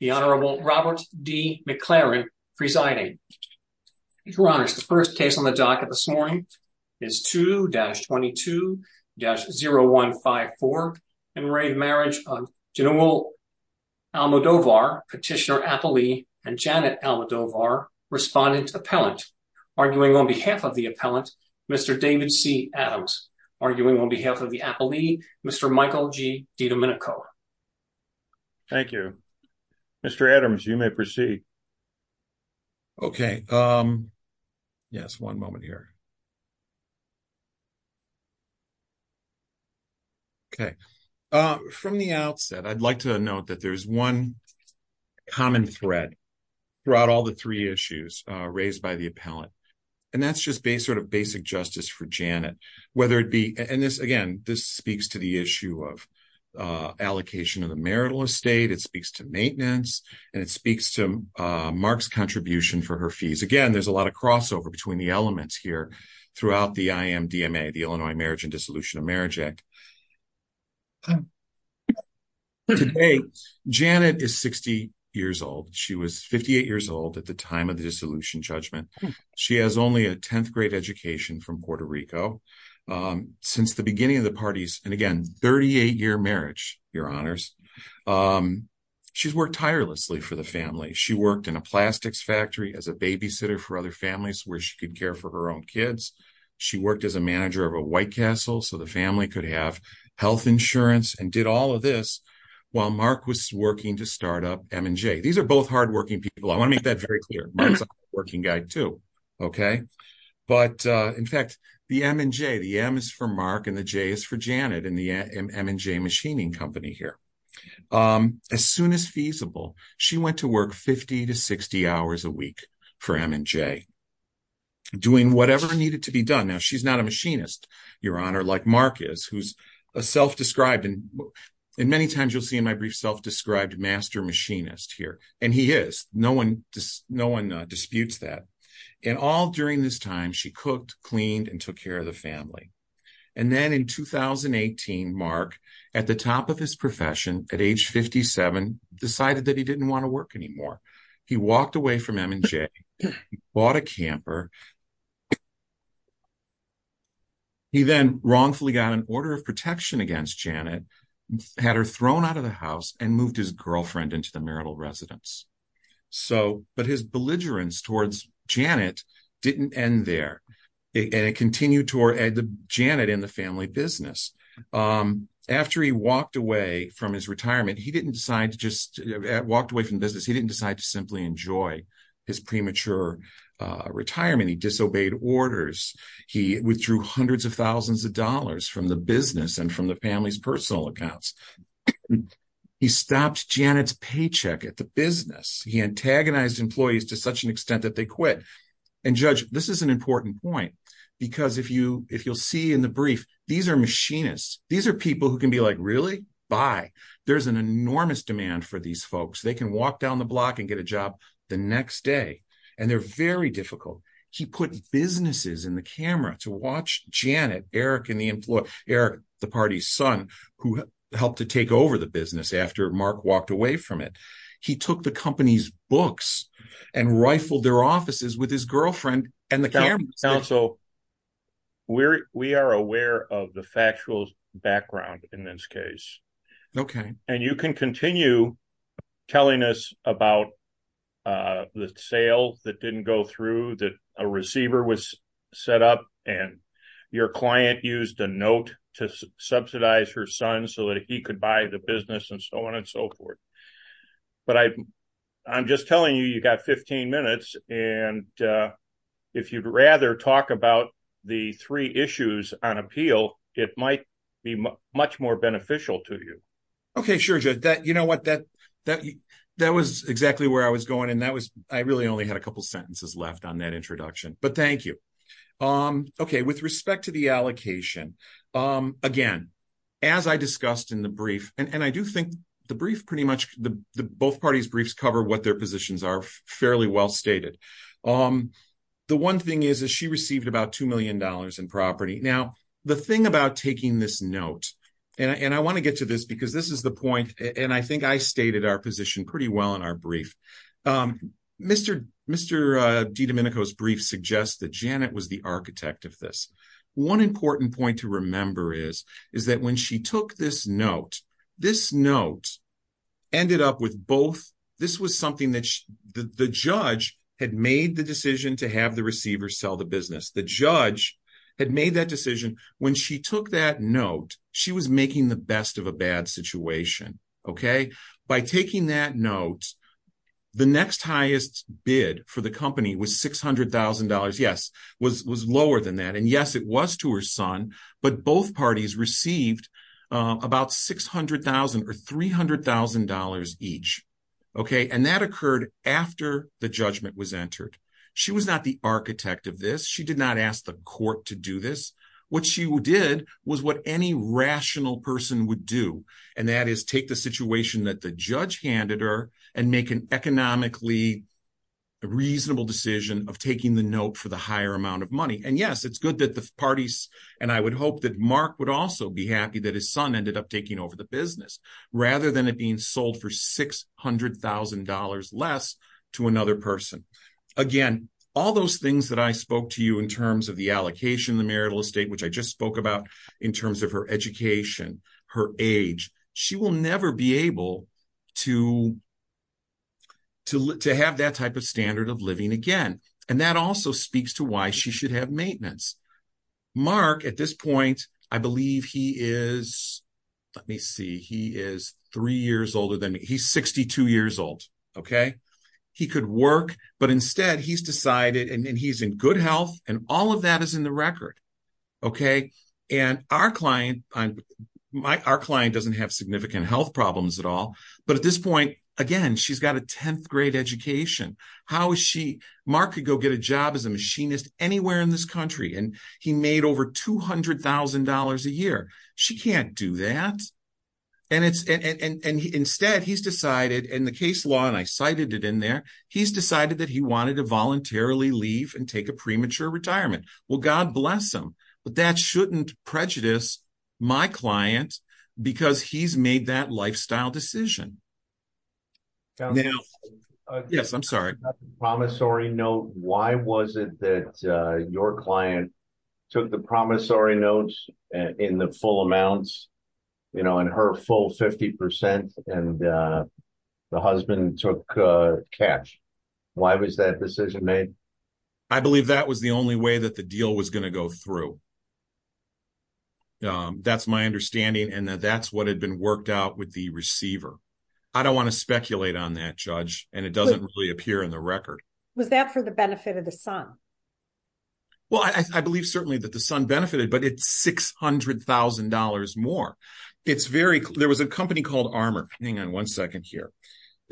The Honorable Robert D. McLaren presiding. Your Honors, the first case on the docket this morning is 2-22-0154, Enraged Marriage of General Almodovar, Petitioner Apolli, and Janet Almodovar, Respondent Appellant, arguing on behalf of the Appellant, Mr. David C. Adams, arguing on behalf of the Apolli, Mr. Michael G. DiDomenico. Thank you. Mr. Adams, you may proceed. Okay. Yes, one moment here. Okay. From the outset, I'd like to note that there's one common thread throughout all the three issues raised by the Appellant, and that's just sort of basic justice for Janet, and again, this speaks to the issue of allocation of the marital estate, it speaks to maintenance, and it speaks to Mark's contribution for her fees. Again, there's a lot of crossover between the elements here throughout the IMDMA, the Illinois Marriage and Dissolution of Marriage Act. Today, Janet is 60 years old. She was 58 years old at the time of the dissolution judgment. She has only a 10th grade education from Puerto Rico. Since the beginning of the parties, and again, 38-year marriage, your honors, she's worked tirelessly for the family. She worked in a plastics factory as a babysitter for other families where she could care for her own kids. She worked as a manager of a White Castle so the family could have health insurance and did all of this while Mark was working to start up M&J. These are both hardworking people. I want to make that very clear. Mark's a hardworking guy too, okay? But in fact, the M is for Mark and the J is for Janet in the M&J Machining Company here. As soon as feasible, she went to work 50 to 60 hours a week for M&J, doing whatever needed to be done. Now, she's not a machinist, your honor, like Mark is, who's a self-described and many no one disputes that. And all during this time, she cooked, cleaned, and took care of the family. And then in 2018, Mark, at the top of his profession, at age 57, decided that he didn't want to work anymore. He walked away from M&J, bought a camper. He then wrongfully got an order of protection against Janet, had her thrown out of the house, and moved his girlfriend into the marital residence. But his belligerence towards Janet didn't end there. And it continued toward Janet and the family business. After he walked away from his retirement, he didn't decide to just walk away from business. He didn't decide to simply enjoy his premature retirement. He disobeyed orders. He withdrew hundreds of thousands of dollars from the business and from the family's personal accounts. He stopped Janet's paycheck at the business. He antagonized employees to such an extent that they quit. And Judge, this is an important point. Because if you'll see in the brief, these are machinists. These are people who can be like, really? Bye. There's an enormous demand for these folks. They can walk down the block and get a job the next day. And they're very difficult. He put businesses in the camera to watch Janet, Eric, and the employee, Eric, the party's son, who helped to take over the business after Mark walked away from it. He took the company's books and rifled their offices with his girlfriend and the cameras. Now, so we are aware of the factual background in this case. Okay. And you can continue telling us about the sale that didn't go through, that a receiver was set up and your client used a note to subsidize her son so that he could buy the business and so on and so forth. But I'm just telling you, you got 15 minutes. And if you'd rather talk about the three issues on appeal, it might be much more beneficial to you. Okay. Sure. You know what? That was exactly where I was going. And I really only had a couple sentences left on that introduction. But thank you. Okay. With respect to the allocation, again, as I discussed in the brief, and I do think the brief pretty much, both parties' briefs cover what their positions are fairly well stated. The one thing is that she received about $2 million in property. Now, the thing about taking this note, and I want to get to this because this is the point, and I think I stated our position pretty well in our brief. Mr. DiDomenico's brief suggests that Janet was the architect of this. One important point to remember is that when she took this note, this note ended up with both, this was something that the judge had made the decision to have When she took that note, she was making the best of a bad situation. Okay. By taking that note, the next highest bid for the company was $600,000. Yes, was lower than that. And yes, it was to her son, but both parties received about $600,000 or $300,000 each. Okay. And that occurred after the judgment was entered. She was not the architect of this. She did not ask the court to do this. What she did was what any rational person would do, and that is take the situation that the judge handed her and make an economically reasonable decision of taking the note for the higher amount of money. And yes, it's good that the parties, and I would hope that Mark would also be happy that his son ended up taking over the business rather than it being sold for $600,000 less to another person. Again, all those things that I spoke to you in terms of the allocation, the marital estate, which I just spoke about in terms of her education, her age, she will never be able to have that type of standard of living again. And that also speaks to why she should have maintenance. Mark, at this point, I believe he is, let me see, he is three years older than me. He's 62 years old. Okay. He could work, but instead he's decided, and he's in good health, and all of that is in the record. Okay. And our client doesn't have significant health problems at all. But at this point, again, she's got a 10th grade education. How is she, Mark could go get a job as a machinist anywhere in this country, and he made over $200,000 a year. She can't do that. And instead he's decided in the case law, and I cited it in there, he's decided that he wanted to voluntarily leave and take a premature retirement. Well, God bless him, but that shouldn't prejudice my client because he's made that lifestyle decision. Yes, I'm sorry. Promissory note. Why was it that your client took the promissory notes in the full amounts, you know, in her full 50% and the husband took cash? Why was that decision made? I believe that was the only way that the deal was going to go through. That's my understanding, and that's what had been worked out with the receiver. I don't want to speculate on that, Judge, and it doesn't really appear in the record. Was that for the benefit of the son? Well, I believe certainly that the son benefited, but it's $600,000 more. It's very, there was a company called Armor. Hang on one second here.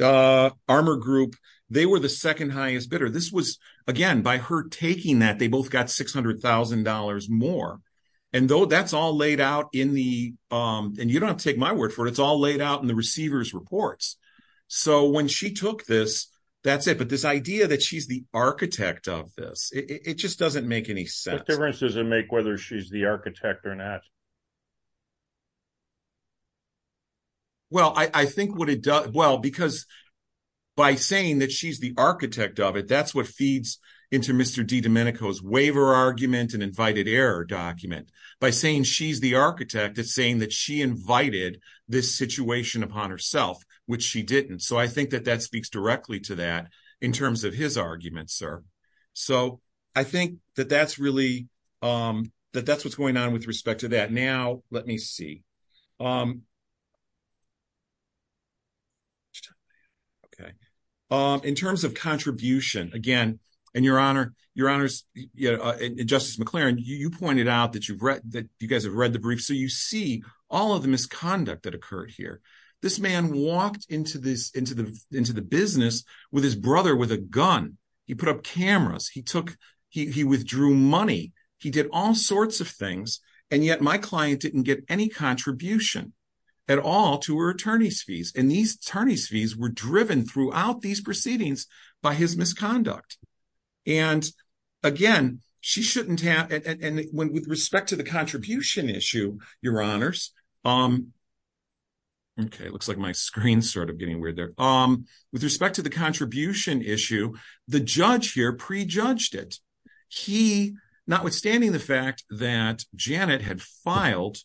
Armor Group, they were the second highest bidder. This was, again, by her taking that, they both got $600,000 more. And though that's all laid out in the, and you don't have to take my word for it, it's all laid out in the receiver's reports. So when she took this, that's it. But this idea that she's the architect of this, it just doesn't make any sense. What difference does it make whether she's the architect or not? Well, I think what it does, well, because by saying that she's the architect of it, that's what feeds into Mr. DiDomenico's waiver argument and invited error document. By saying she's the architect, it's saying that she invited this situation upon herself, which she didn't. So I think that that speaks directly to that in terms of his argument, sir. So I think that that's really, that that's what's going on with respect to that. Now, let me see. Okay. In terms of contribution, again, and Your Honor, Your Honors, Justice McLaren, you pointed out that you've read, that you guys have read the brief. So you see all of the misconduct that occurred here. This man walked into the business with his brother with a gun. He put up cameras. He took, he withdrew money. He did all sorts of things. And yet my client didn't get any contribution at all to her attorney's fees. And these attorney's fees were driven throughout these proceedings by his misconduct. And again, she shouldn't have, and with respect to the contribution issue, Your Honors, okay, it looks like my screen started getting weird there. With respect to the contribution issue, the judge here pre-judged it. He, notwithstanding the fact that Janet had filed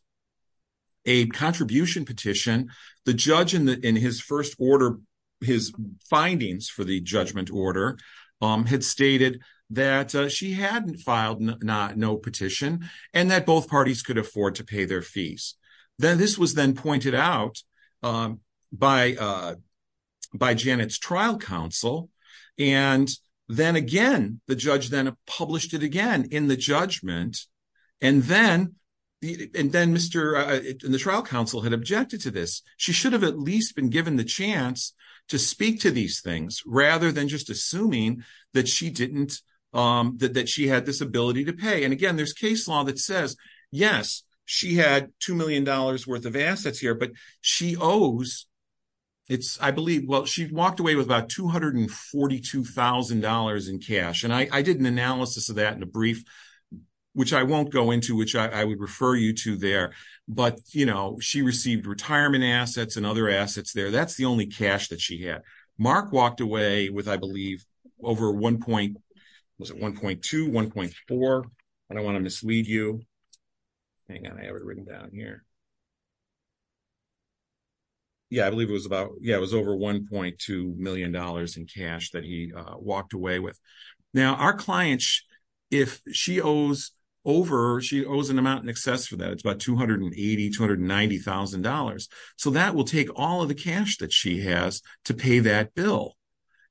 a contribution petition, the judge in his first order, his findings for the judgment order had stated that she hadn't filed no petition and that both parties could afford to pay their fees. Then this was then pointed out by Janet's trial counsel. And then again, the judge then published it again in the judgment. And then the trial counsel had objected to this. She should have at least been given the chance to speak to these things rather than just assuming that she had this ability to pay. And again, there's case law that says, yes, she had $2 million worth of assets here, but she owes, I believe, well, she walked away with about $242,000 in cash. And I did an analysis of that in a brief, which I won't go into, which I would refer you to there. But, you know, she received retirement assets and other assets there. That's the only cash that she had. Mark walked away with, I believe, over 1.2, 1.4. I don't want to mislead you. Hang on, I have it written down here. Yeah, I believe it was about yeah, it was over 1.2 million dollars in cash that he walked away with. Now, our clients, if she owes over, she owes an amount in excess for that. It's about two hundred and eighty, two hundred ninety thousand dollars. So that will take all of the cash that she has to pay that bill.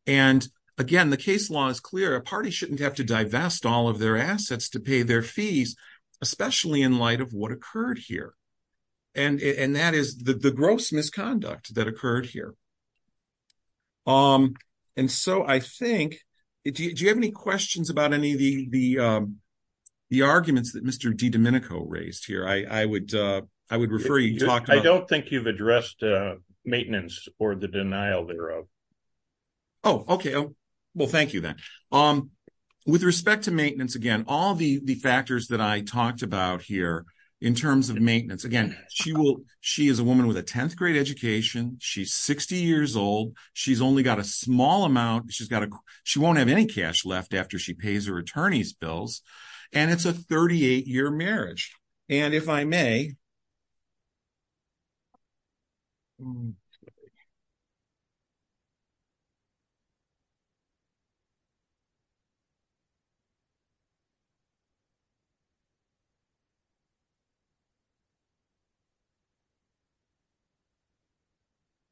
And again, the case law is clear. A party shouldn't have to divest all of their assets to pay their fees, especially in light of what occurred here. And that is the gross misconduct that occurred here. And so I think if you have any questions about any of the arguments that Mr. DiDomenico raised here, I would I would refer you. I don't think you've addressed maintenance or the denial thereof. Oh, OK. Well, thank you. With respect to maintenance, again, all the factors that I talked about here in terms of maintenance, again, she will she is a woman with a 10th grade education. She's 60 years old. She's only got a small amount. She's got to she won't have any cash left after she pays her attorney's bills. And it's a 38 year marriage. And if I may.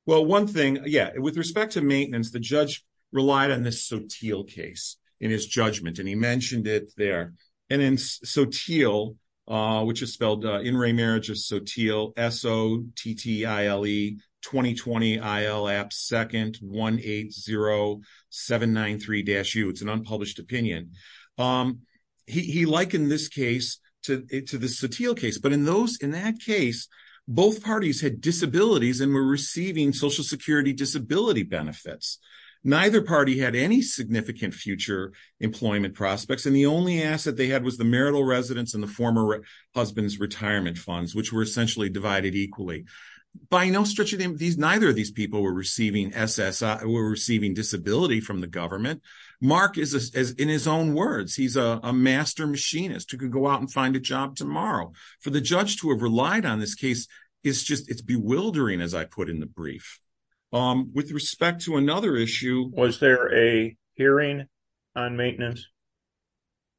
Well, one thing. Yeah. With respect to maintenance, the judge relied on this Sotil case in his judgment, and he mentioned it there. And in Sotil, which is spelled in re marriage of Sotil, S O T T I L E 2020 I L app second one eight zero seven nine three dash you. It's an unpublished opinion. He likened this case to the Sotil case. But in those in that case, both parties had disabilities and were receiving Social Security disability benefits. Neither party had any significant future employment prospects. And the only asset they had was the marital residence and the former husband's retirement funds, which were essentially divided equally by no stretch of these. Neither of these people were receiving SSI or receiving disability from the government. Mark is as in his own words, he's a master machinist who can go out and find a job tomorrow for the judge to have relied on. This case is just it's bewildering, as I put in the brief. With respect to another issue, was there a hearing on maintenance?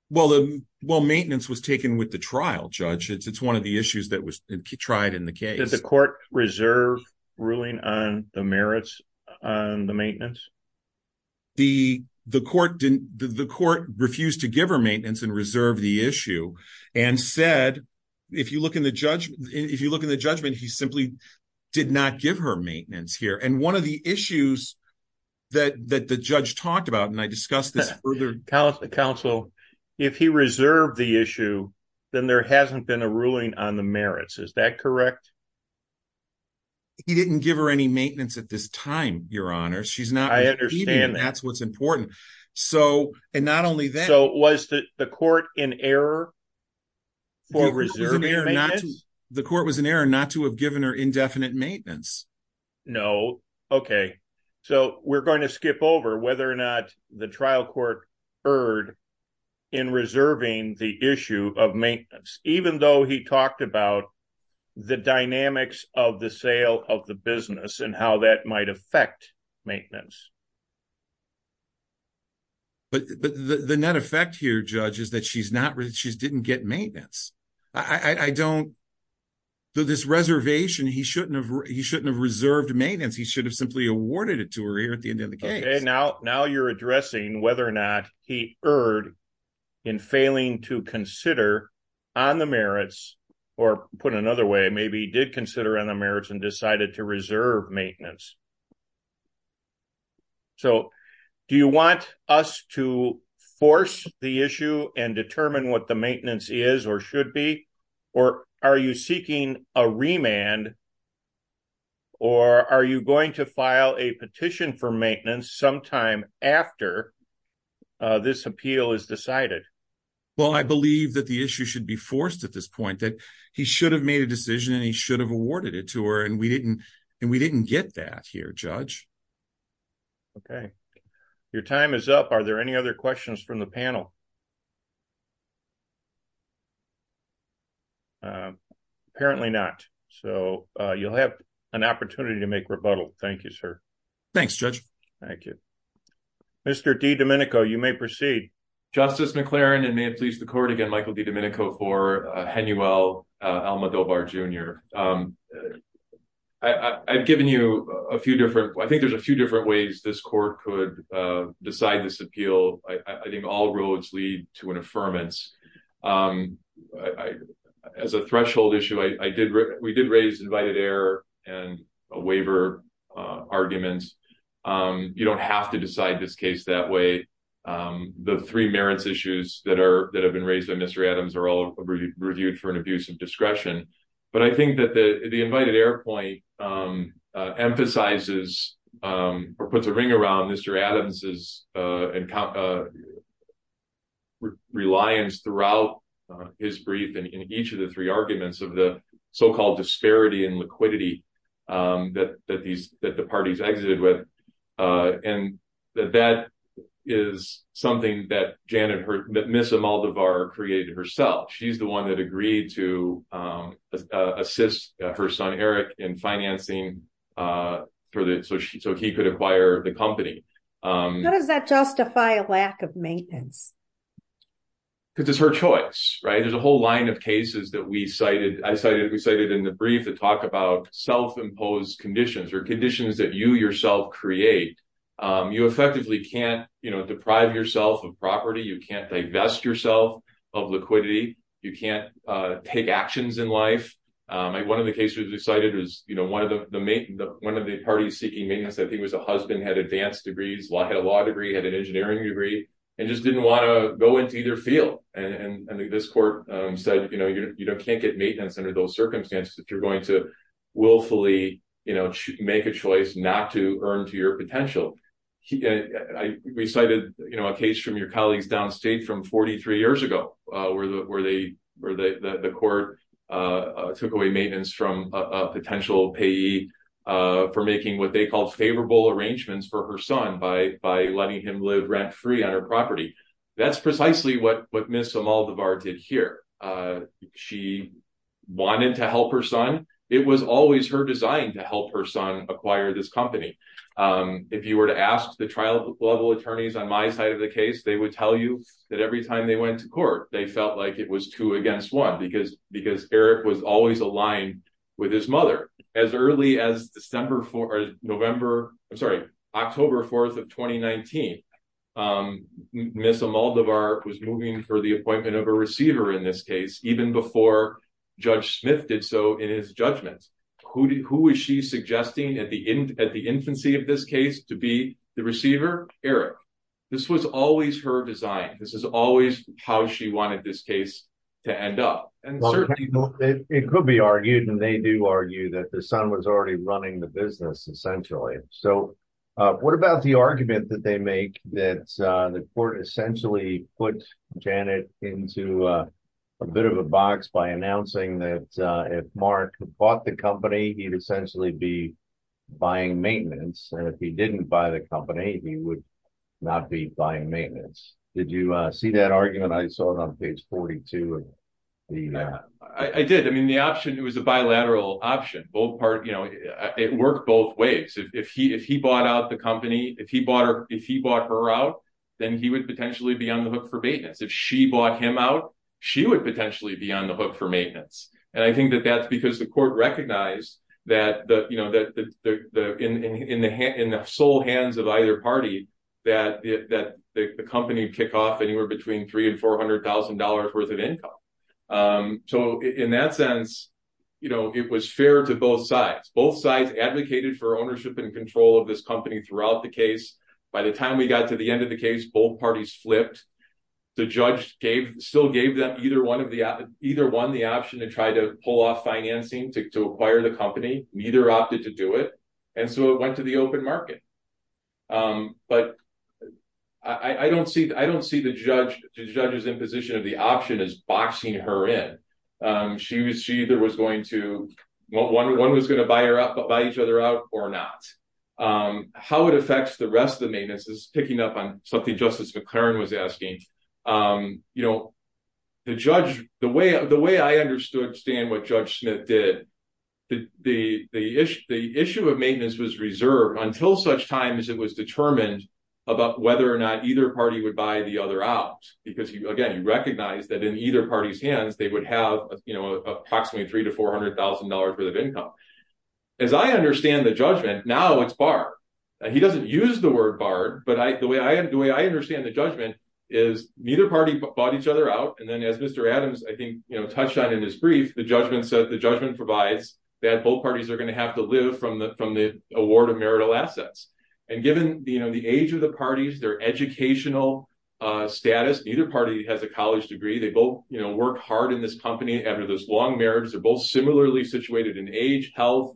Well, well, maintenance was taken with the trial judge. It's one of the issues that was tried in the case. Was the court reserve ruling on the merits on the maintenance? The the court didn't the court refused to give her maintenance and reserve the issue and said, if you look in the judgment, if you look in the judgment, he simply did not give her maintenance here. And one of the issues that the judge talked about, and I discussed this further counsel, if he reserved the issue, then there hasn't been a ruling on the merits. Is that correct? He didn't give her any maintenance at this time. Your honor, she's not. I understand. That's what's important. So and not only that, so was the court in error? The court was in error not to have given her indefinite maintenance. No. Okay. So we're going to skip over whether or not the trial court heard in reserving the issue of maintenance, even though he talked about the dynamics of the sale of the business and how that might affect maintenance. But the net effect here, judges that she's not rich, she's didn't get maintenance. I don't. So this reservation, he shouldn't have he shouldn't have reserved maintenance. He should have simply awarded it to her here at the end of the day. Now, now you're addressing whether or not he heard. In failing to consider on the merits, or put another way, maybe did consider on the merits and decided to reserve maintenance. So, do you want us to force the issue and determine what the maintenance is or should be? Or are you seeking a remand? Or are you going to file a petition for maintenance sometime after this appeal is decided? Well, I believe that the issue should be forced at this point that he should have made a decision and he should have awarded it to her and we didn't and we didn't get that here. Judge. Okay, your time is up. Are there any other questions from the panel? Apparently not. So you'll have an opportunity to make rebuttal. Thank you, sir. Thanks judge. Thank you. Mr. D. Domenico, you may proceed. Justice McLaren, and may it please the court again, Michael D. Domenico for HENUEL Alma Dobar Jr. I've given you a few different, I think there's a few different ways this court could decide this appeal. I think all roads lead to an affirmance. As a threshold issue I did, we did raise invited air and a waiver arguments. You don't have to decide this case that way. The three merits issues that are that have been raised in Mr Adams are all reviewed for an abuse of discretion. But I think that the invited air point emphasizes, or puts a ring around Mr Adams's reliance throughout his brief and in each of the three arguments of the so called disparity and liquidity that the parties exited with. And that is something that Miss Imelda Barr created herself. She's the one that agreed to assist her son Eric in financing, so he could acquire the company. How does that justify a lack of maintenance? Because it's her choice, right? There's a whole line of cases that we cited, I cited, we cited in the brief to talk about self imposed conditions or conditions that you yourself create. You effectively can't, you know, deprive yourself of property, you can't divest yourself of liquidity, you can't take actions in life. One of the cases we cited was, you know, one of the parties seeking maintenance, I think it was a husband, had advanced degrees, had a law degree, had an engineering degree, and just didn't want to go into either field. And this court said, you know, you can't get maintenance under those circumstances if you're going to willfully, you know, make a choice not to earn to your potential. I cited, you know, a case from your colleagues downstate from 43 years ago, where the court took away maintenance from a potential payee for making what they call favorable arrangements for her son by letting him live rent free on her property. That's precisely what Miss Imelda Barr did here. She wanted to help her son. It was always her design to help her son acquire this company. If you were to ask the trial level attorneys on my side of the case, they would tell you that every time they went to court, they felt like it was two against one because Eric was always aligned with his mother. As early as October 4th of 2019, Miss Imelda Barr was moving for the appointment of a receiver in this case, even before Judge Smith did so in his judgment. Who was she suggesting at the infancy of this case to be the receiver? Eric. This was always her design. This is always how she wanted this case to end up. It could be argued and they do argue that the son was already running the business essentially. So what about the argument that they make that the court essentially put Janet into a bit of a box by announcing that if Mark bought the company, he'd essentially be buying maintenance. And if he didn't buy the company, he would not be buying maintenance. Did you see that argument? I saw it on page 42. I did. I mean, the option, it was a bilateral option. It worked both ways. If he bought out the company, if he bought her out, then he would potentially be on the hook for maintenance. If she bought him out, she would potentially be on the hook for maintenance. And I think that that's because the court recognized that in the soul hands of either party, that the company would kick off anywhere between three and four hundred thousand dollars worth of income. So in that sense, it was fair to both sides. Both sides advocated for ownership and control of this company throughout the case. By the time we got to the end of the case, both parties flipped. The judge gave still gave them either one of the either one the option to try to pull off financing to acquire the company. Neither opted to do it. And so it went to the open market. But I don't see I don't see the judge judges in position of the option is boxing her in. She was she either was going to one was going to buy her up, buy each other out or not. How it affects the rest of the maintenance is picking up on something Justice McClaren was asking. You know, the judge, the way the way I understood, Stan, what Judge Smith did, the issue, the issue of maintenance was reserved until such time as it was determined about whether or not either party would buy the other out. Because, again, you recognize that in either party's hands, they would have, you know, approximately three to four hundred thousand dollars worth of income. As I understand the judgment now, it's bar. He doesn't use the word bar. But the way I do it, I understand the judgment is neither party bought each other out. And then as Mr. Adams, I think, you know, touched on in his brief, the judgment said the judgment provides that both parties are going to have to live from the from the award of marital assets. And given the age of the parties, their educational status, either party has a college degree. They both work hard in this company after this long marriage. They're both similarly situated in age, health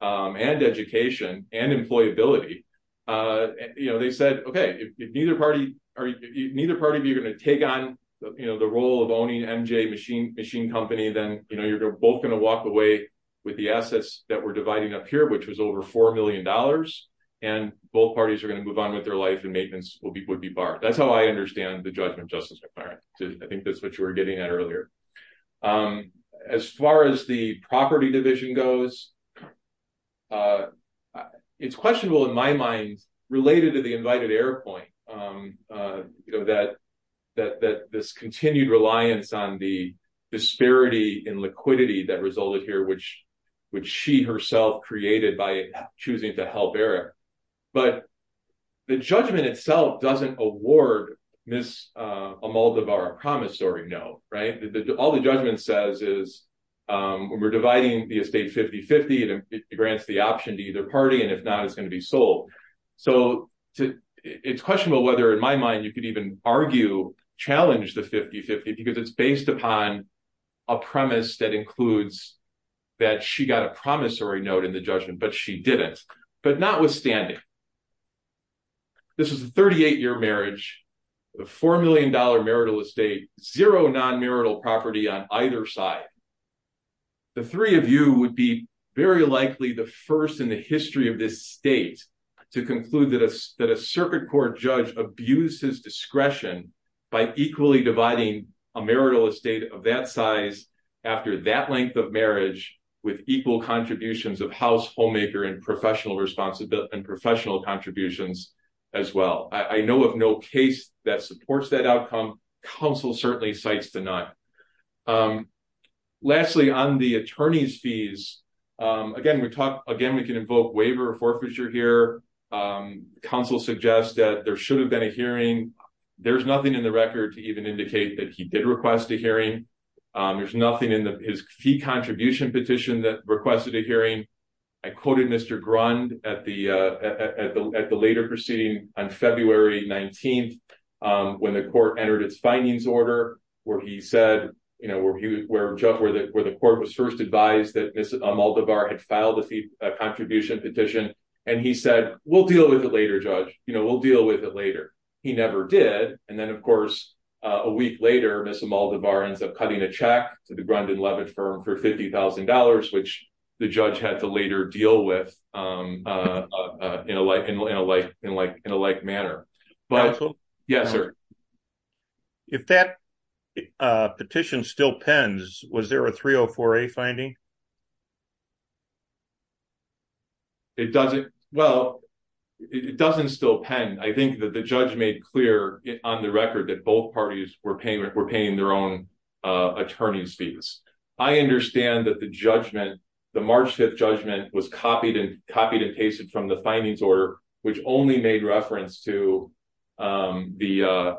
and education and employability. You know, they said, OK, neither party or neither party. You're going to take on the role of owning MJ machine machine company. Then, you know, you're both going to walk away with the assets that we're dividing up here, which was over four million dollars. And both parties are going to move on with their life and maintenance will be would be barred. That's how I understand the judgment justice. I think that's what you were getting at earlier. As far as the property division goes. It's questionable in my mind related to the invited air point that that this continued reliance on the disparity in liquidity that resulted here, which which she herself created by choosing to help Eric. But the judgment itself doesn't award this a mold of our promissory note. Right. All the judgment says is we're dividing the estate 50 50. It grants the option to either party. And if not, it's going to be sold. So it's questionable whether in my mind you could even argue challenge the 50 50, because it's based upon a premise that includes that she got a promissory note in the judgment. But she didn't. But notwithstanding. This is a 38 year marriage, a four million dollar marital estate, zero non marital property on either side. The three of you would be very likely the first in the history of this state to conclude that a that a circuit court judge abuses discretion by equally dividing a marital estate of that size. After that length of marriage with equal contributions of household maker and professional responsibility and professional contributions as well. I know of no case that supports that outcome. Council certainly cites the night. Lastly, on the attorney's fees. Again, we talk again we can invoke waiver forfeiture here. Council suggests that there should have been a hearing. There's nothing in the record to even indicate that he did request a hearing. There's nothing in his fee contribution petition that requested a hearing. I quoted Mr. Grund at the at the later proceeding on February 19th. When the court entered its findings order, where he said, you know, where he was where Jeff where the where the court was first advised that this multiple bar had filed a contribution petition. And he said, we'll deal with it later. Judge, you know, we'll deal with it later. He never did. And then, of course, a week later, Mr. Maldivar ends up cutting a check to the Grundin-Levitt firm for $50,000, which the judge had to later deal with in a like, in a like, in a like, in a like manner. But, yes, sir. If that petition still pens, was there a 304A finding? It doesn't. Well, it doesn't still pen. I think that the judge made clear on the record that both parties were payment were paying their own attorney's fees. I understand that the judgment, the March 5th judgment was copied and copied and pasted from the findings order, which only made reference to the.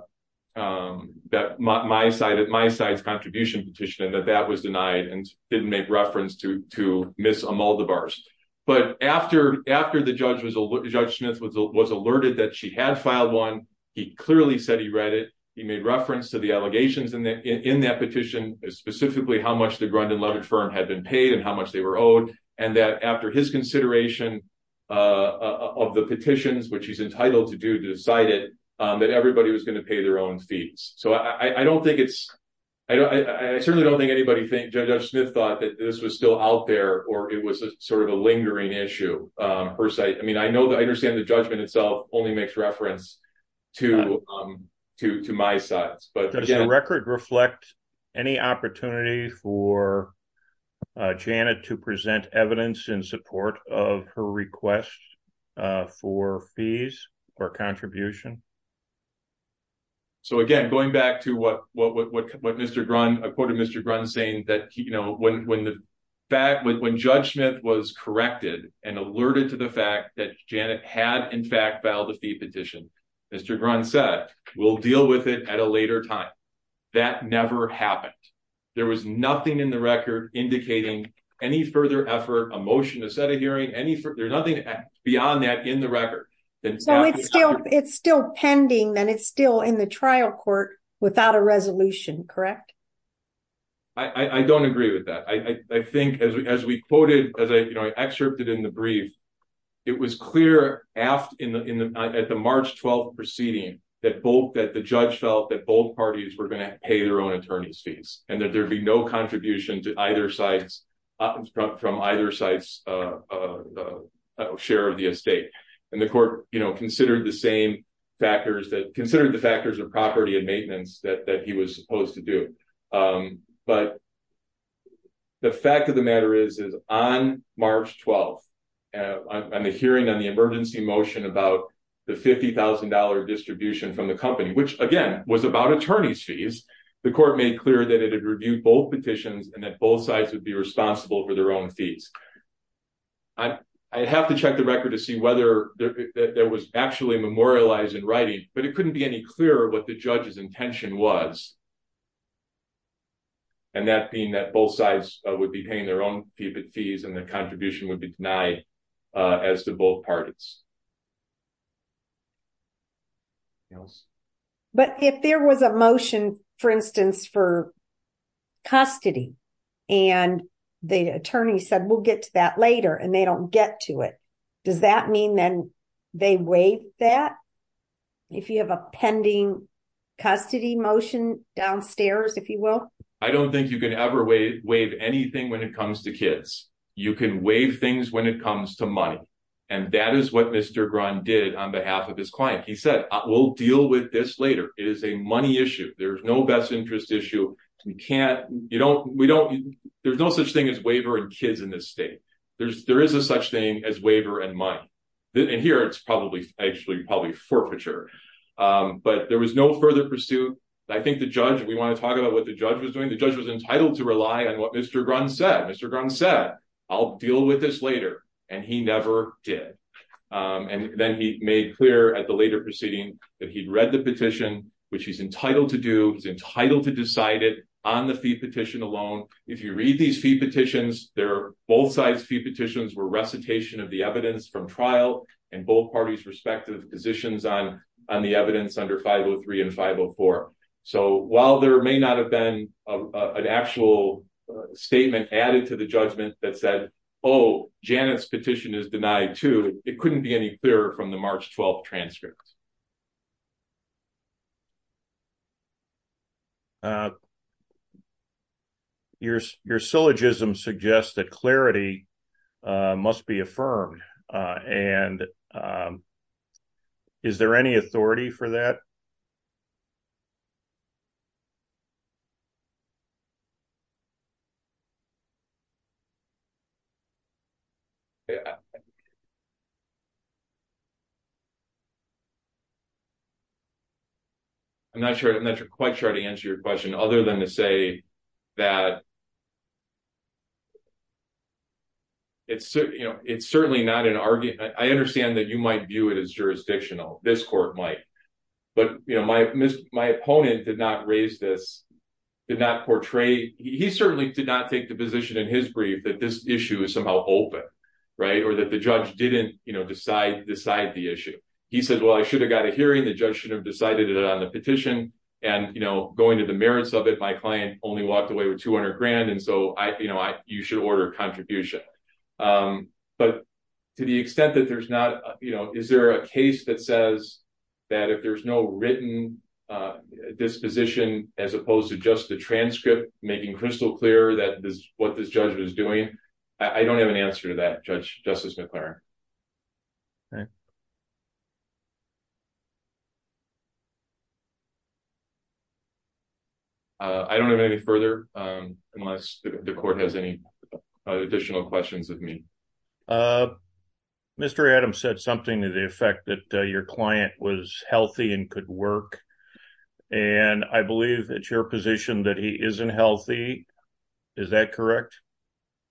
That my side at my side's contribution petition and that that was denied and didn't make reference to Miss Maldivar's. But after after the judge was a judge was alerted that she had filed one, he clearly said he read it. He made reference to the allegations in that petition is specifically how much the Grundin-Levitt firm had been paid and how much they were owed. And that after his consideration of the petitions, which he's entitled to do, decided that everybody was going to pay their own fees. So I don't think it's I certainly don't think anybody think Judge Smith thought that this was still out there or it was sort of a lingering issue. I mean, I know that I understand the judgment itself only makes reference to to to my sides, but record reflect any opportunity for Janet to present evidence in support of her request for fees or contribution. So, again, going back to what what what what Mr. Grund, I quoted Mr. Grund saying that, you know, when when the fact when when Judge Smith was corrected and alerted to the fact that Janet had, in fact, filed a fee petition, Mr. Grund said, we'll deal with it at a later time. That never happened. There was nothing in the record indicating any further effort, a motion, a set of hearing any further nothing beyond that in the record. So it's still it's still pending then it's still in the trial court without a resolution. Correct. I don't agree with that. I think as we as we quoted as I excerpted in the brief. It was clear after in the at the March 12 proceeding that both that the judge felt that both parties were going to pay their own attorneys fees and that there'd be no contribution to either sides from either side's share of the estate. And the court, you know, considered the same factors that considered the factors of property and maintenance that he was supposed to do. But the fact of the matter is, is on March 12 and the hearing on the emergency motion about the $50,000 distribution from the company, which again was about attorneys fees. The court made clear that it had reviewed both petitions and that both sides would be responsible for their own fees. I have to check the record to see whether there was actually memorialized in writing, but it couldn't be any clearer what the judge's intention was. And that being that both sides would be paying their own fees and the contribution would be denied as to both parties. Yes, but if there was a motion, for instance, for custody, and the attorney said, we'll get to that later and they don't get to it. Does that mean then they wait that if you have a pending custody motion downstairs, if you will, I don't think you can ever wave anything when it comes to kids. You can wave things when it comes to money. And that is what Mr. Grun did on behalf of his client. He said, we'll deal with this later. It is a money issue. There's no best interest issue. We can't, you know, we don't, there's no such thing as waiver and kids in this state. There's, there is a such thing as waiver and money. And here it's probably actually probably forfeiture. But there was no further pursuit. I think the judge, we want to talk about what the judge was doing. The judge was entitled to rely on what Mr. Grun said. Mr. Grun said, I'll deal with this later. And he never did. And then he made clear at the later proceeding that he'd read the petition, which he's entitled to do. He's entitled to decide it on the fee petition alone. If you read these fee petitions, they're both sides fee petitions were recitation of the evidence from trial and both parties respective positions on the evidence under 503 and 504. So while there may not have been an actual statement added to the judgment that said, oh, Janet's petition is denied to, it couldn't be any clearer from the March 12th transcript. Your syllogism suggests that clarity must be affirmed. And is there any authority for that? I'm not sure. I'm not quite sure how to answer your question. Other than to say that. It's certainly not an argument. I understand that you might view it as jurisdictional. This court might. But, you know, my opponent did not raise this, did not portray. He certainly did not take the position in his brief that this issue is somehow open. Right. Or that the judge didn't decide the issue. He said, well, I should have got a hearing. The judge should have decided it on the petition. And, you know, going to the merits of it, my client only walked away with 200 grand. And so, you know, you should order contribution. But to the extent that there's not, you know, is there a case that says that if there's no written disposition, as opposed to just the transcript, making crystal clear that this what this judge was doing, I don't have an answer to that. All right. I don't have any further unless the court has any additional questions of me. Mr. Adams said something to the effect that your client was healthy and could work. And I believe that your position that he isn't healthy. Is that correct?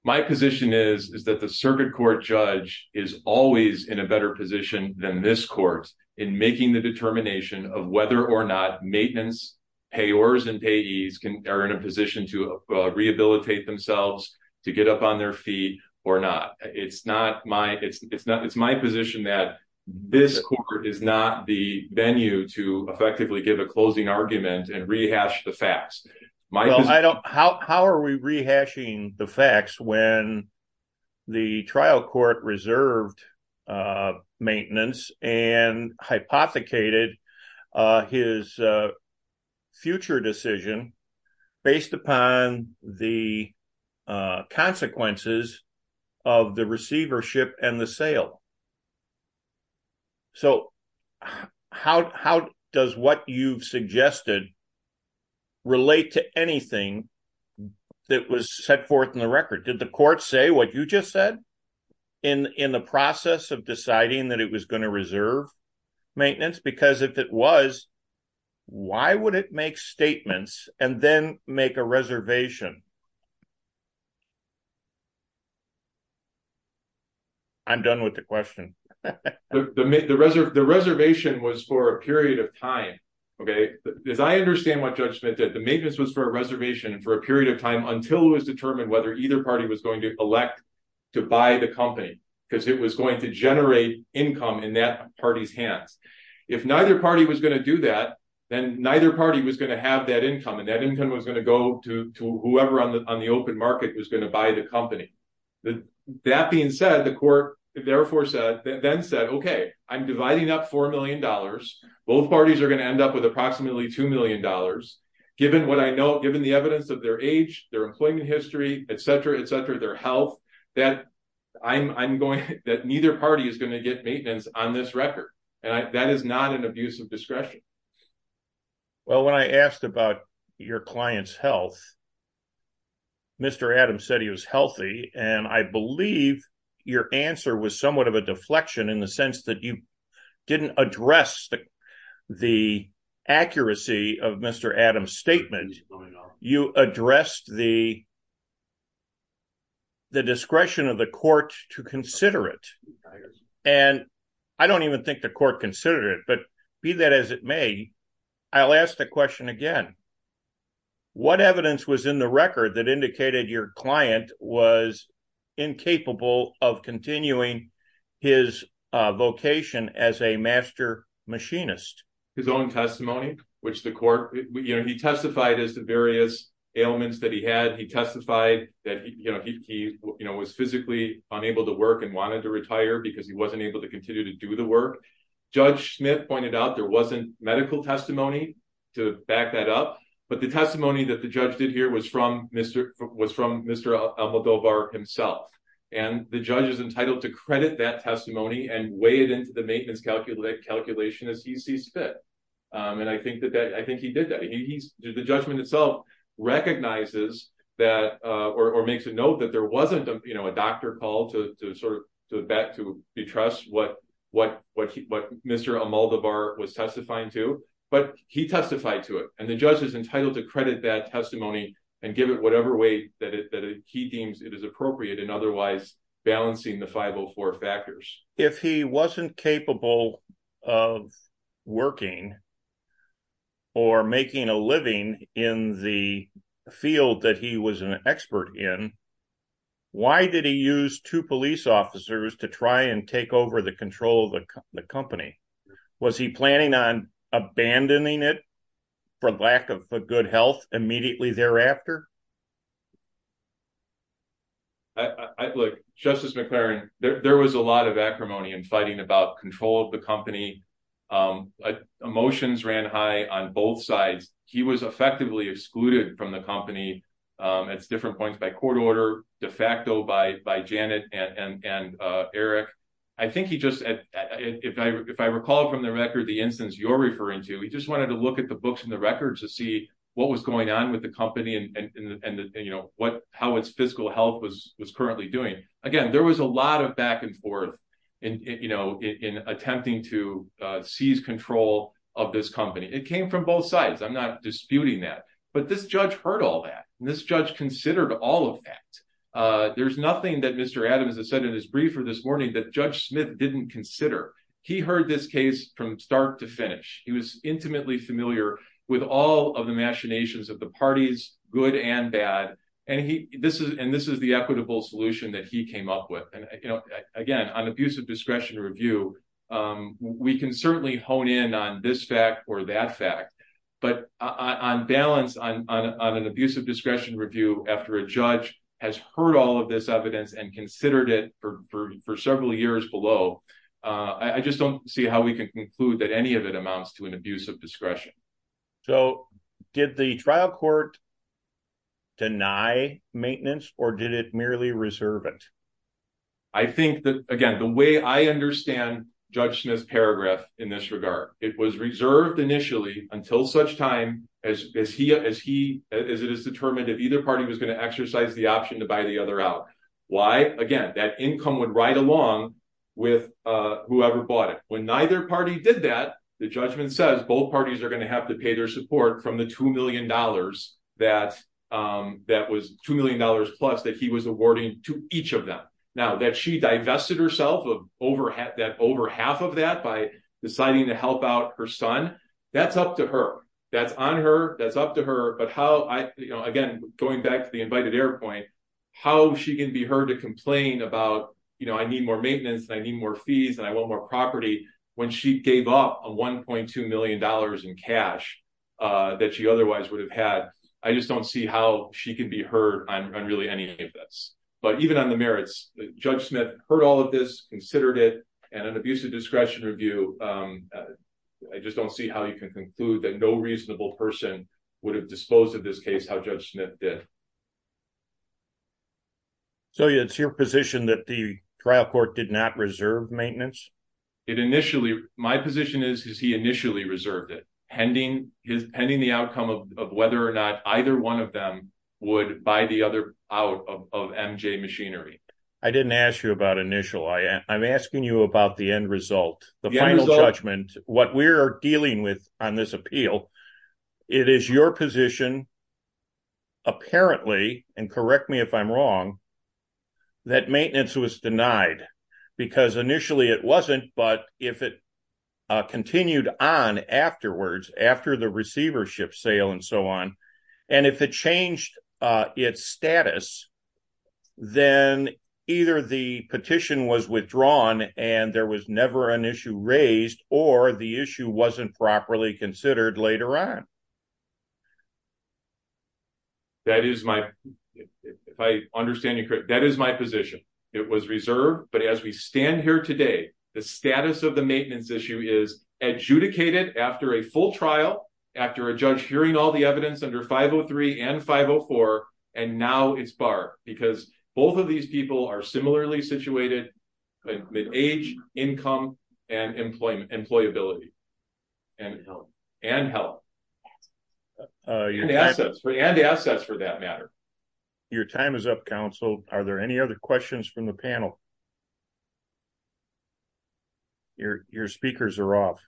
My position is, is that the circuit court judge is always in a better position than this court in making the determination of whether or not maintenance payors and payees are in a position to rehabilitate themselves to get up on their feet or not. It's not my it's not it's my position that this is not the venue to effectively give a closing argument and rehash the facts. How are we rehashing the facts when the trial court reserved maintenance and hypothecated his future decision based upon the consequences of the receivership and the sale. So, how does what you've suggested relate to anything that was set forth in the record did the court say what you just said in in the process of deciding that it was going to reserve maintenance because if it was, why would it make statements, and then make a reservation. I'm done with the question. The reservation was for a period of time. Okay, as I understand what judgment that the maintenance was for a reservation for a period of time until it was determined whether either party was going to elect to buy the company, because it was going to generate income in that party's hands. If neither party was going to do that, then neither party was going to have that income and that income was going to go to whoever on the on the open market was going to buy the company. That being said, the court, therefore said that then said okay I'm dividing up $4 million. Both parties are going to end up with approximately $2 million. Given what I know given the evidence of their age, their employment history, etc etc their health that I'm going that neither party is going to get maintenance on this record, and that is not an abuse of discretion. Well, when I asked about your clients health. Mr Adams said he was healthy, and I believe your answer was somewhat of a deflection in the sense that you didn't address the, the accuracy of Mr Adams statement, you addressed the, the discretion of the court to consider it. And I don't even think the court considered it but be that as it may, I'll ask the question again. What evidence was in the record that indicated your client was incapable of continuing his vocation as a master machinist. His own testimony, which the court, you know he testified as the various ailments that he had he testified that he was physically unable to work and wanted to retire because he wasn't able to continue to do the work. Judge Smith pointed out there wasn't medical testimony to back that up, but the testimony that the judge did here was from Mr. was from Mr. himself, and the judge is entitled to credit that testimony and weigh it into the maintenance calculator calculation as he sees fit. And I think that that I think he did that he's the judgment itself recognizes that, or makes a note that there wasn't, you know, a doctor call to sort of back to the trust what, what, what, what Mr. was testifying to, but he testified to it, and the judge is entitled to credit that testimony and give it whatever way that he deems it is appropriate and otherwise balancing the 504 factors, if he wasn't capable of working or making a living in the field that he was an expert in. Why did he use to police officers to try and take over the control of the company. Was he planning on abandoning it for lack of good health immediately thereafter. I look, Justice McLaren, there was a lot of acrimony and fighting about control of the company emotions ran high on both sides, he was effectively excluded from the company. It's different points by court order de facto by by Janet and Eric. I think he just, if I, if I recall from the record the instance you're referring to he just wanted to look at the books and the records to see what was going on with the company and what how its fiscal health was was currently doing. Again, there was a lot of back and forth. And, you know, in attempting to seize control of this company it came from both sides I'm not disputing that, but this judge heard all that this judge considered all of that. There's nothing that Mr Adams has said in his briefer this morning that Judge Smith didn't consider. He heard this case from start to finish, he was intimately familiar with all of the machinations of the parties, good and bad. And he, this is and this is the equitable solution that he came up with. And, you know, again, an abusive discretion review. We can certainly hone in on this fact or that fact, but on balance on an abusive discretion review after a judge has heard all of this evidence and considered it for for several years below. I just don't see how we can conclude that any of it amounts to an abusive discretion. So, did the trial court deny maintenance, or did it merely reserve it. I think that, again, the way I understand Judge Smith's paragraph in this regard, it was reserved initially until such time as he as he is it is determined if either party was going to exercise the option to buy the other out. Why, again, that income would ride along with whoever bought it. When neither party did that, the judgment says both parties are going to have to pay their support from the $2 million that that was $2 million plus that he was awarding to each of them. Now, that she divested herself of over half of that by deciding to help out her son. That's up to her. That's on her. That's up to her. But how I, you know, again, going back to the invited air point, how she can be heard to complain about, you know, I need more maintenance. I need more fees and I want more property when she gave up a $1.2 million in cash that she otherwise would have had. I just don't see how she can be heard on really any of this. But even on the merits, Judge Smith heard all of this considered it and an abusive discretion review. I just don't see how you can conclude that no reasonable person would have disposed of this case how Judge Smith did. So, it's your position that the trial court did not reserve maintenance. It initially my position is, is he initially reserved it pending his pending the outcome of whether or not either 1 of them would buy the other out of MJ machinery. I didn't ask you about initial. I, I'm asking you about the end result. The final judgment what we're dealing with on this appeal. It is your position. Apparently, and correct me if I'm wrong, that maintenance was denied, because initially it wasn't but if it continued on afterwards after the receivership sale and so on. And if it changed its status, then either the petition was withdrawn and there was never an issue raised or the issue wasn't properly considered later on. That is my, if I understand you correct, that is my position. It was reserved, but as we stand here today, the status of the maintenance issue is adjudicated after a full trial after a judge hearing all the evidence under 503 and 504. And now it's bar, because both of these people are similarly situated age, income and employment employability and, and help assets for the assets for that matter. Your time is up counsel, are there any other questions from the panel. Your, your speakers are off.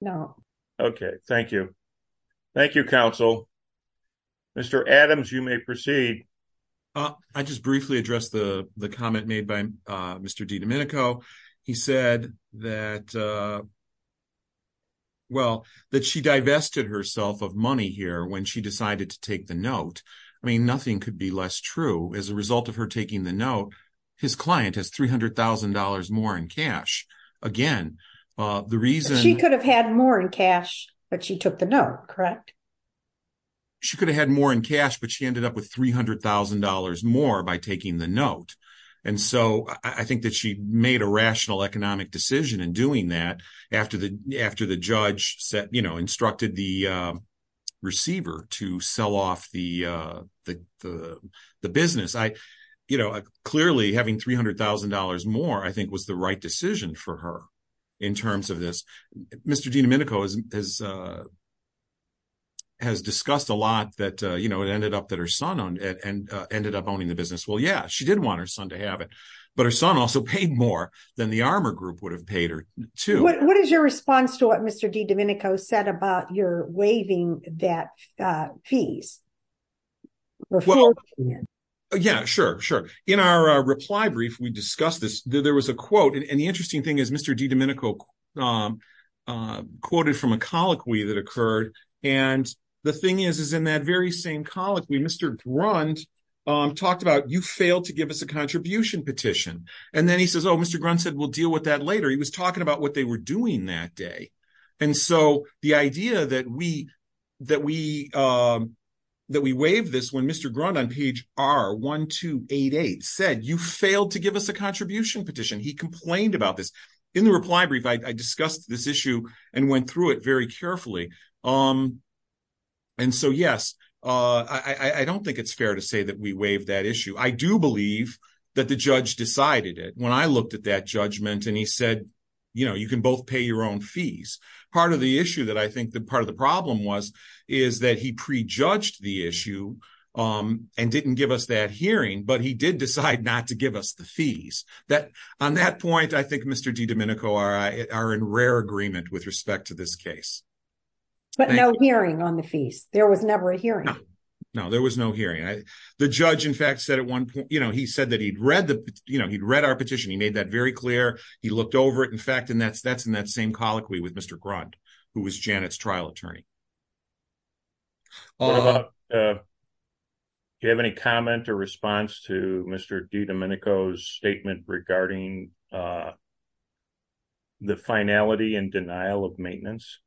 No. Okay, thank you. Thank you counsel. Mr Adams, you may proceed. I just briefly address the, the comment made by Mr D Domenico. He said that. Well, that she divested herself of money here when she decided to take the note. I mean nothing could be less true as a result of her taking the note. His client has $300,000 more in cash. Again, the reason he could have had more in cash, but she took the note correct. She could have had more in cash but she ended up with $300,000 more by taking the note. And so I think that she made a rational economic decision and doing that. After the, after the judge said, you know, instructed the receiver to sell off the, the, the business I, you know, clearly having $300,000 more I think was the right decision for her. In terms of this, Mr D Domenico is, is, has discussed a lot that, you know, it ended up that her son owned it and ended up owning the business. Well, yeah, she didn't want her son to have it, but her son also paid more than the armor group would have paid her to. What is your response to what Mr D Domenico said about your waiving that fees? Well, yeah, sure, sure. In our reply brief, we discussed this, there was a quote and the interesting thing is Mr D Domenico quoted from a colloquy that occurred. And the thing is, is in that very same college, we Mr. Run talked about you failed to give us a contribution petition. And then he says, oh, Mr. Grunt said, we'll deal with that later. He was talking about what they were doing that day. And so the idea that we, that we, that we waived this when Mr. Grunt on page R1288 said you failed to give us a contribution petition, he complained about this. In the reply brief, I discussed this issue and went through it very carefully. And so, yes, I don't think it's fair to say that we waived that issue. I do believe that the judge decided it. When I looked at that judgment and he said, you know, you can both pay your own fees. Part of the issue that I think that part of the problem was, is that he prejudged the issue and didn't give us that hearing. But he did decide not to give us the fees that on that point, I think Mr. D Domenico are in rare agreement with respect to this case. But no hearing on the fees. There was never a hearing. No, no, there was no hearing. The judge, in fact, said at one point, you know, he said that he'd read the, you know, he'd read our petition. He made that very clear. He looked over it. In fact, and that's that's in that same colloquy with Mr. Grunt, who was Janet's trial attorney. Do you have any comment or response to Mr. D Domenico's statement regarding the finality and denial of maintenance?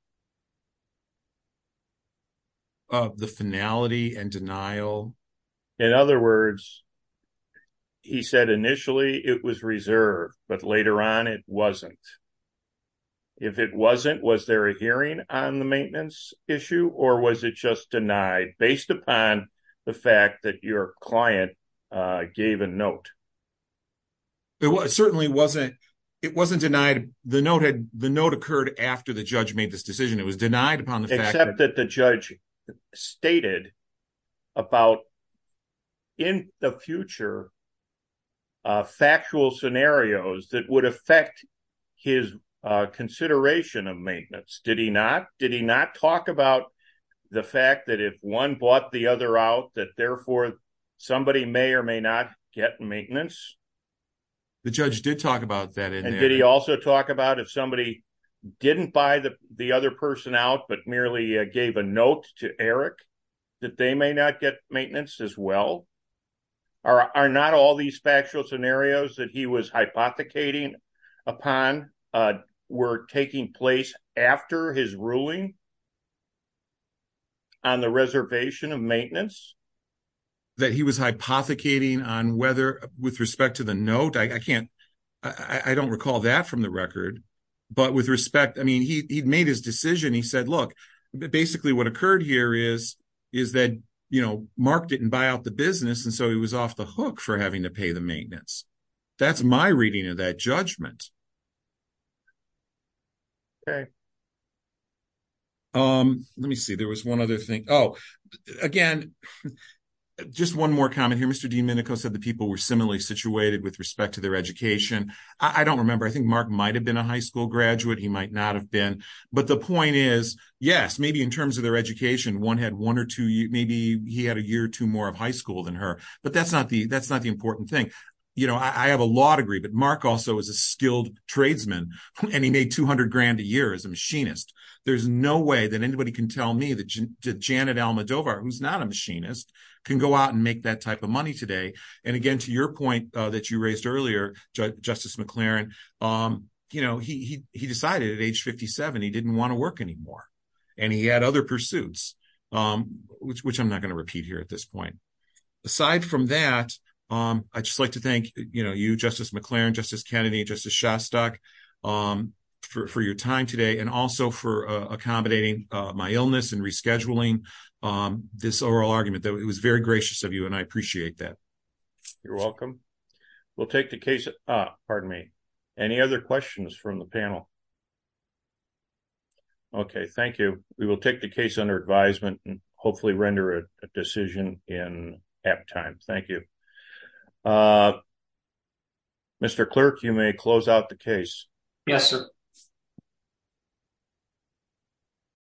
Of the finality and denial. In other words, he said initially it was reserved, but later on it wasn't. If it wasn't, was there a hearing on the maintenance issue or was it just denied based upon the fact that your client gave a note? It certainly wasn't. It wasn't denied. The note had the note occurred after the judge made this decision. It was denied upon the fact that the judge stated about. In the future. Factual scenarios that would affect his consideration of maintenance. Did he not did he not talk about the fact that if 1 bought the other out that therefore somebody may or may not get maintenance. The judge did talk about that and did he also talk about if somebody didn't buy the other person out, but merely gave a note to Eric that they may not get maintenance as well. Are not all these factual scenarios that he was hypothecating upon were taking place after his ruling. On the reservation of maintenance. That he was hypothecating on whether with respect to the note, I can't. I don't recall that from the record, but with respect, I mean, he made his decision. He said, look, basically, what occurred here is. Is that Mark didn't buy out the business and so he was off the hook for having to pay the maintenance. That's my reading of that judgment. Okay, let me see. There was 1 other thing. Oh, again. Just 1 more comment here. Mr. D. Minico said the people were similarly situated with respect to their education. I don't remember. I think Mark might have been a high school graduate. He might not have been. But the point is, yes, maybe in terms of their education, 1 had 1 or 2. Maybe he had a year or 2 more of high school than her. But that's not the that's not the important thing. You know, I have a law degree, but Mark also is a skilled tradesman. And he made 200 grand a year as a machinist. There's no way that anybody can tell me that Janet Almodovar, who's not a machinist, can go out and make that type of money today. And again, to your point that you raised earlier, Justice McLaren, he decided at age 57, he didn't want to work anymore. And he had other pursuits, which I'm not going to repeat here at this point. Aside from that, I'd just like to thank you, Justice McLaren, Justice Kennedy, Justice Shostak, for your time today and also for accommodating my illness and rescheduling this oral argument. It was very gracious of you, and I appreciate that. You're welcome. We'll take the case. Pardon me. Any other questions from the panel? Okay, thank you. We will take the case under advisement and hopefully render a decision in half time. Thank you. Mr. Clerk, you may close out the case. Yes, sir.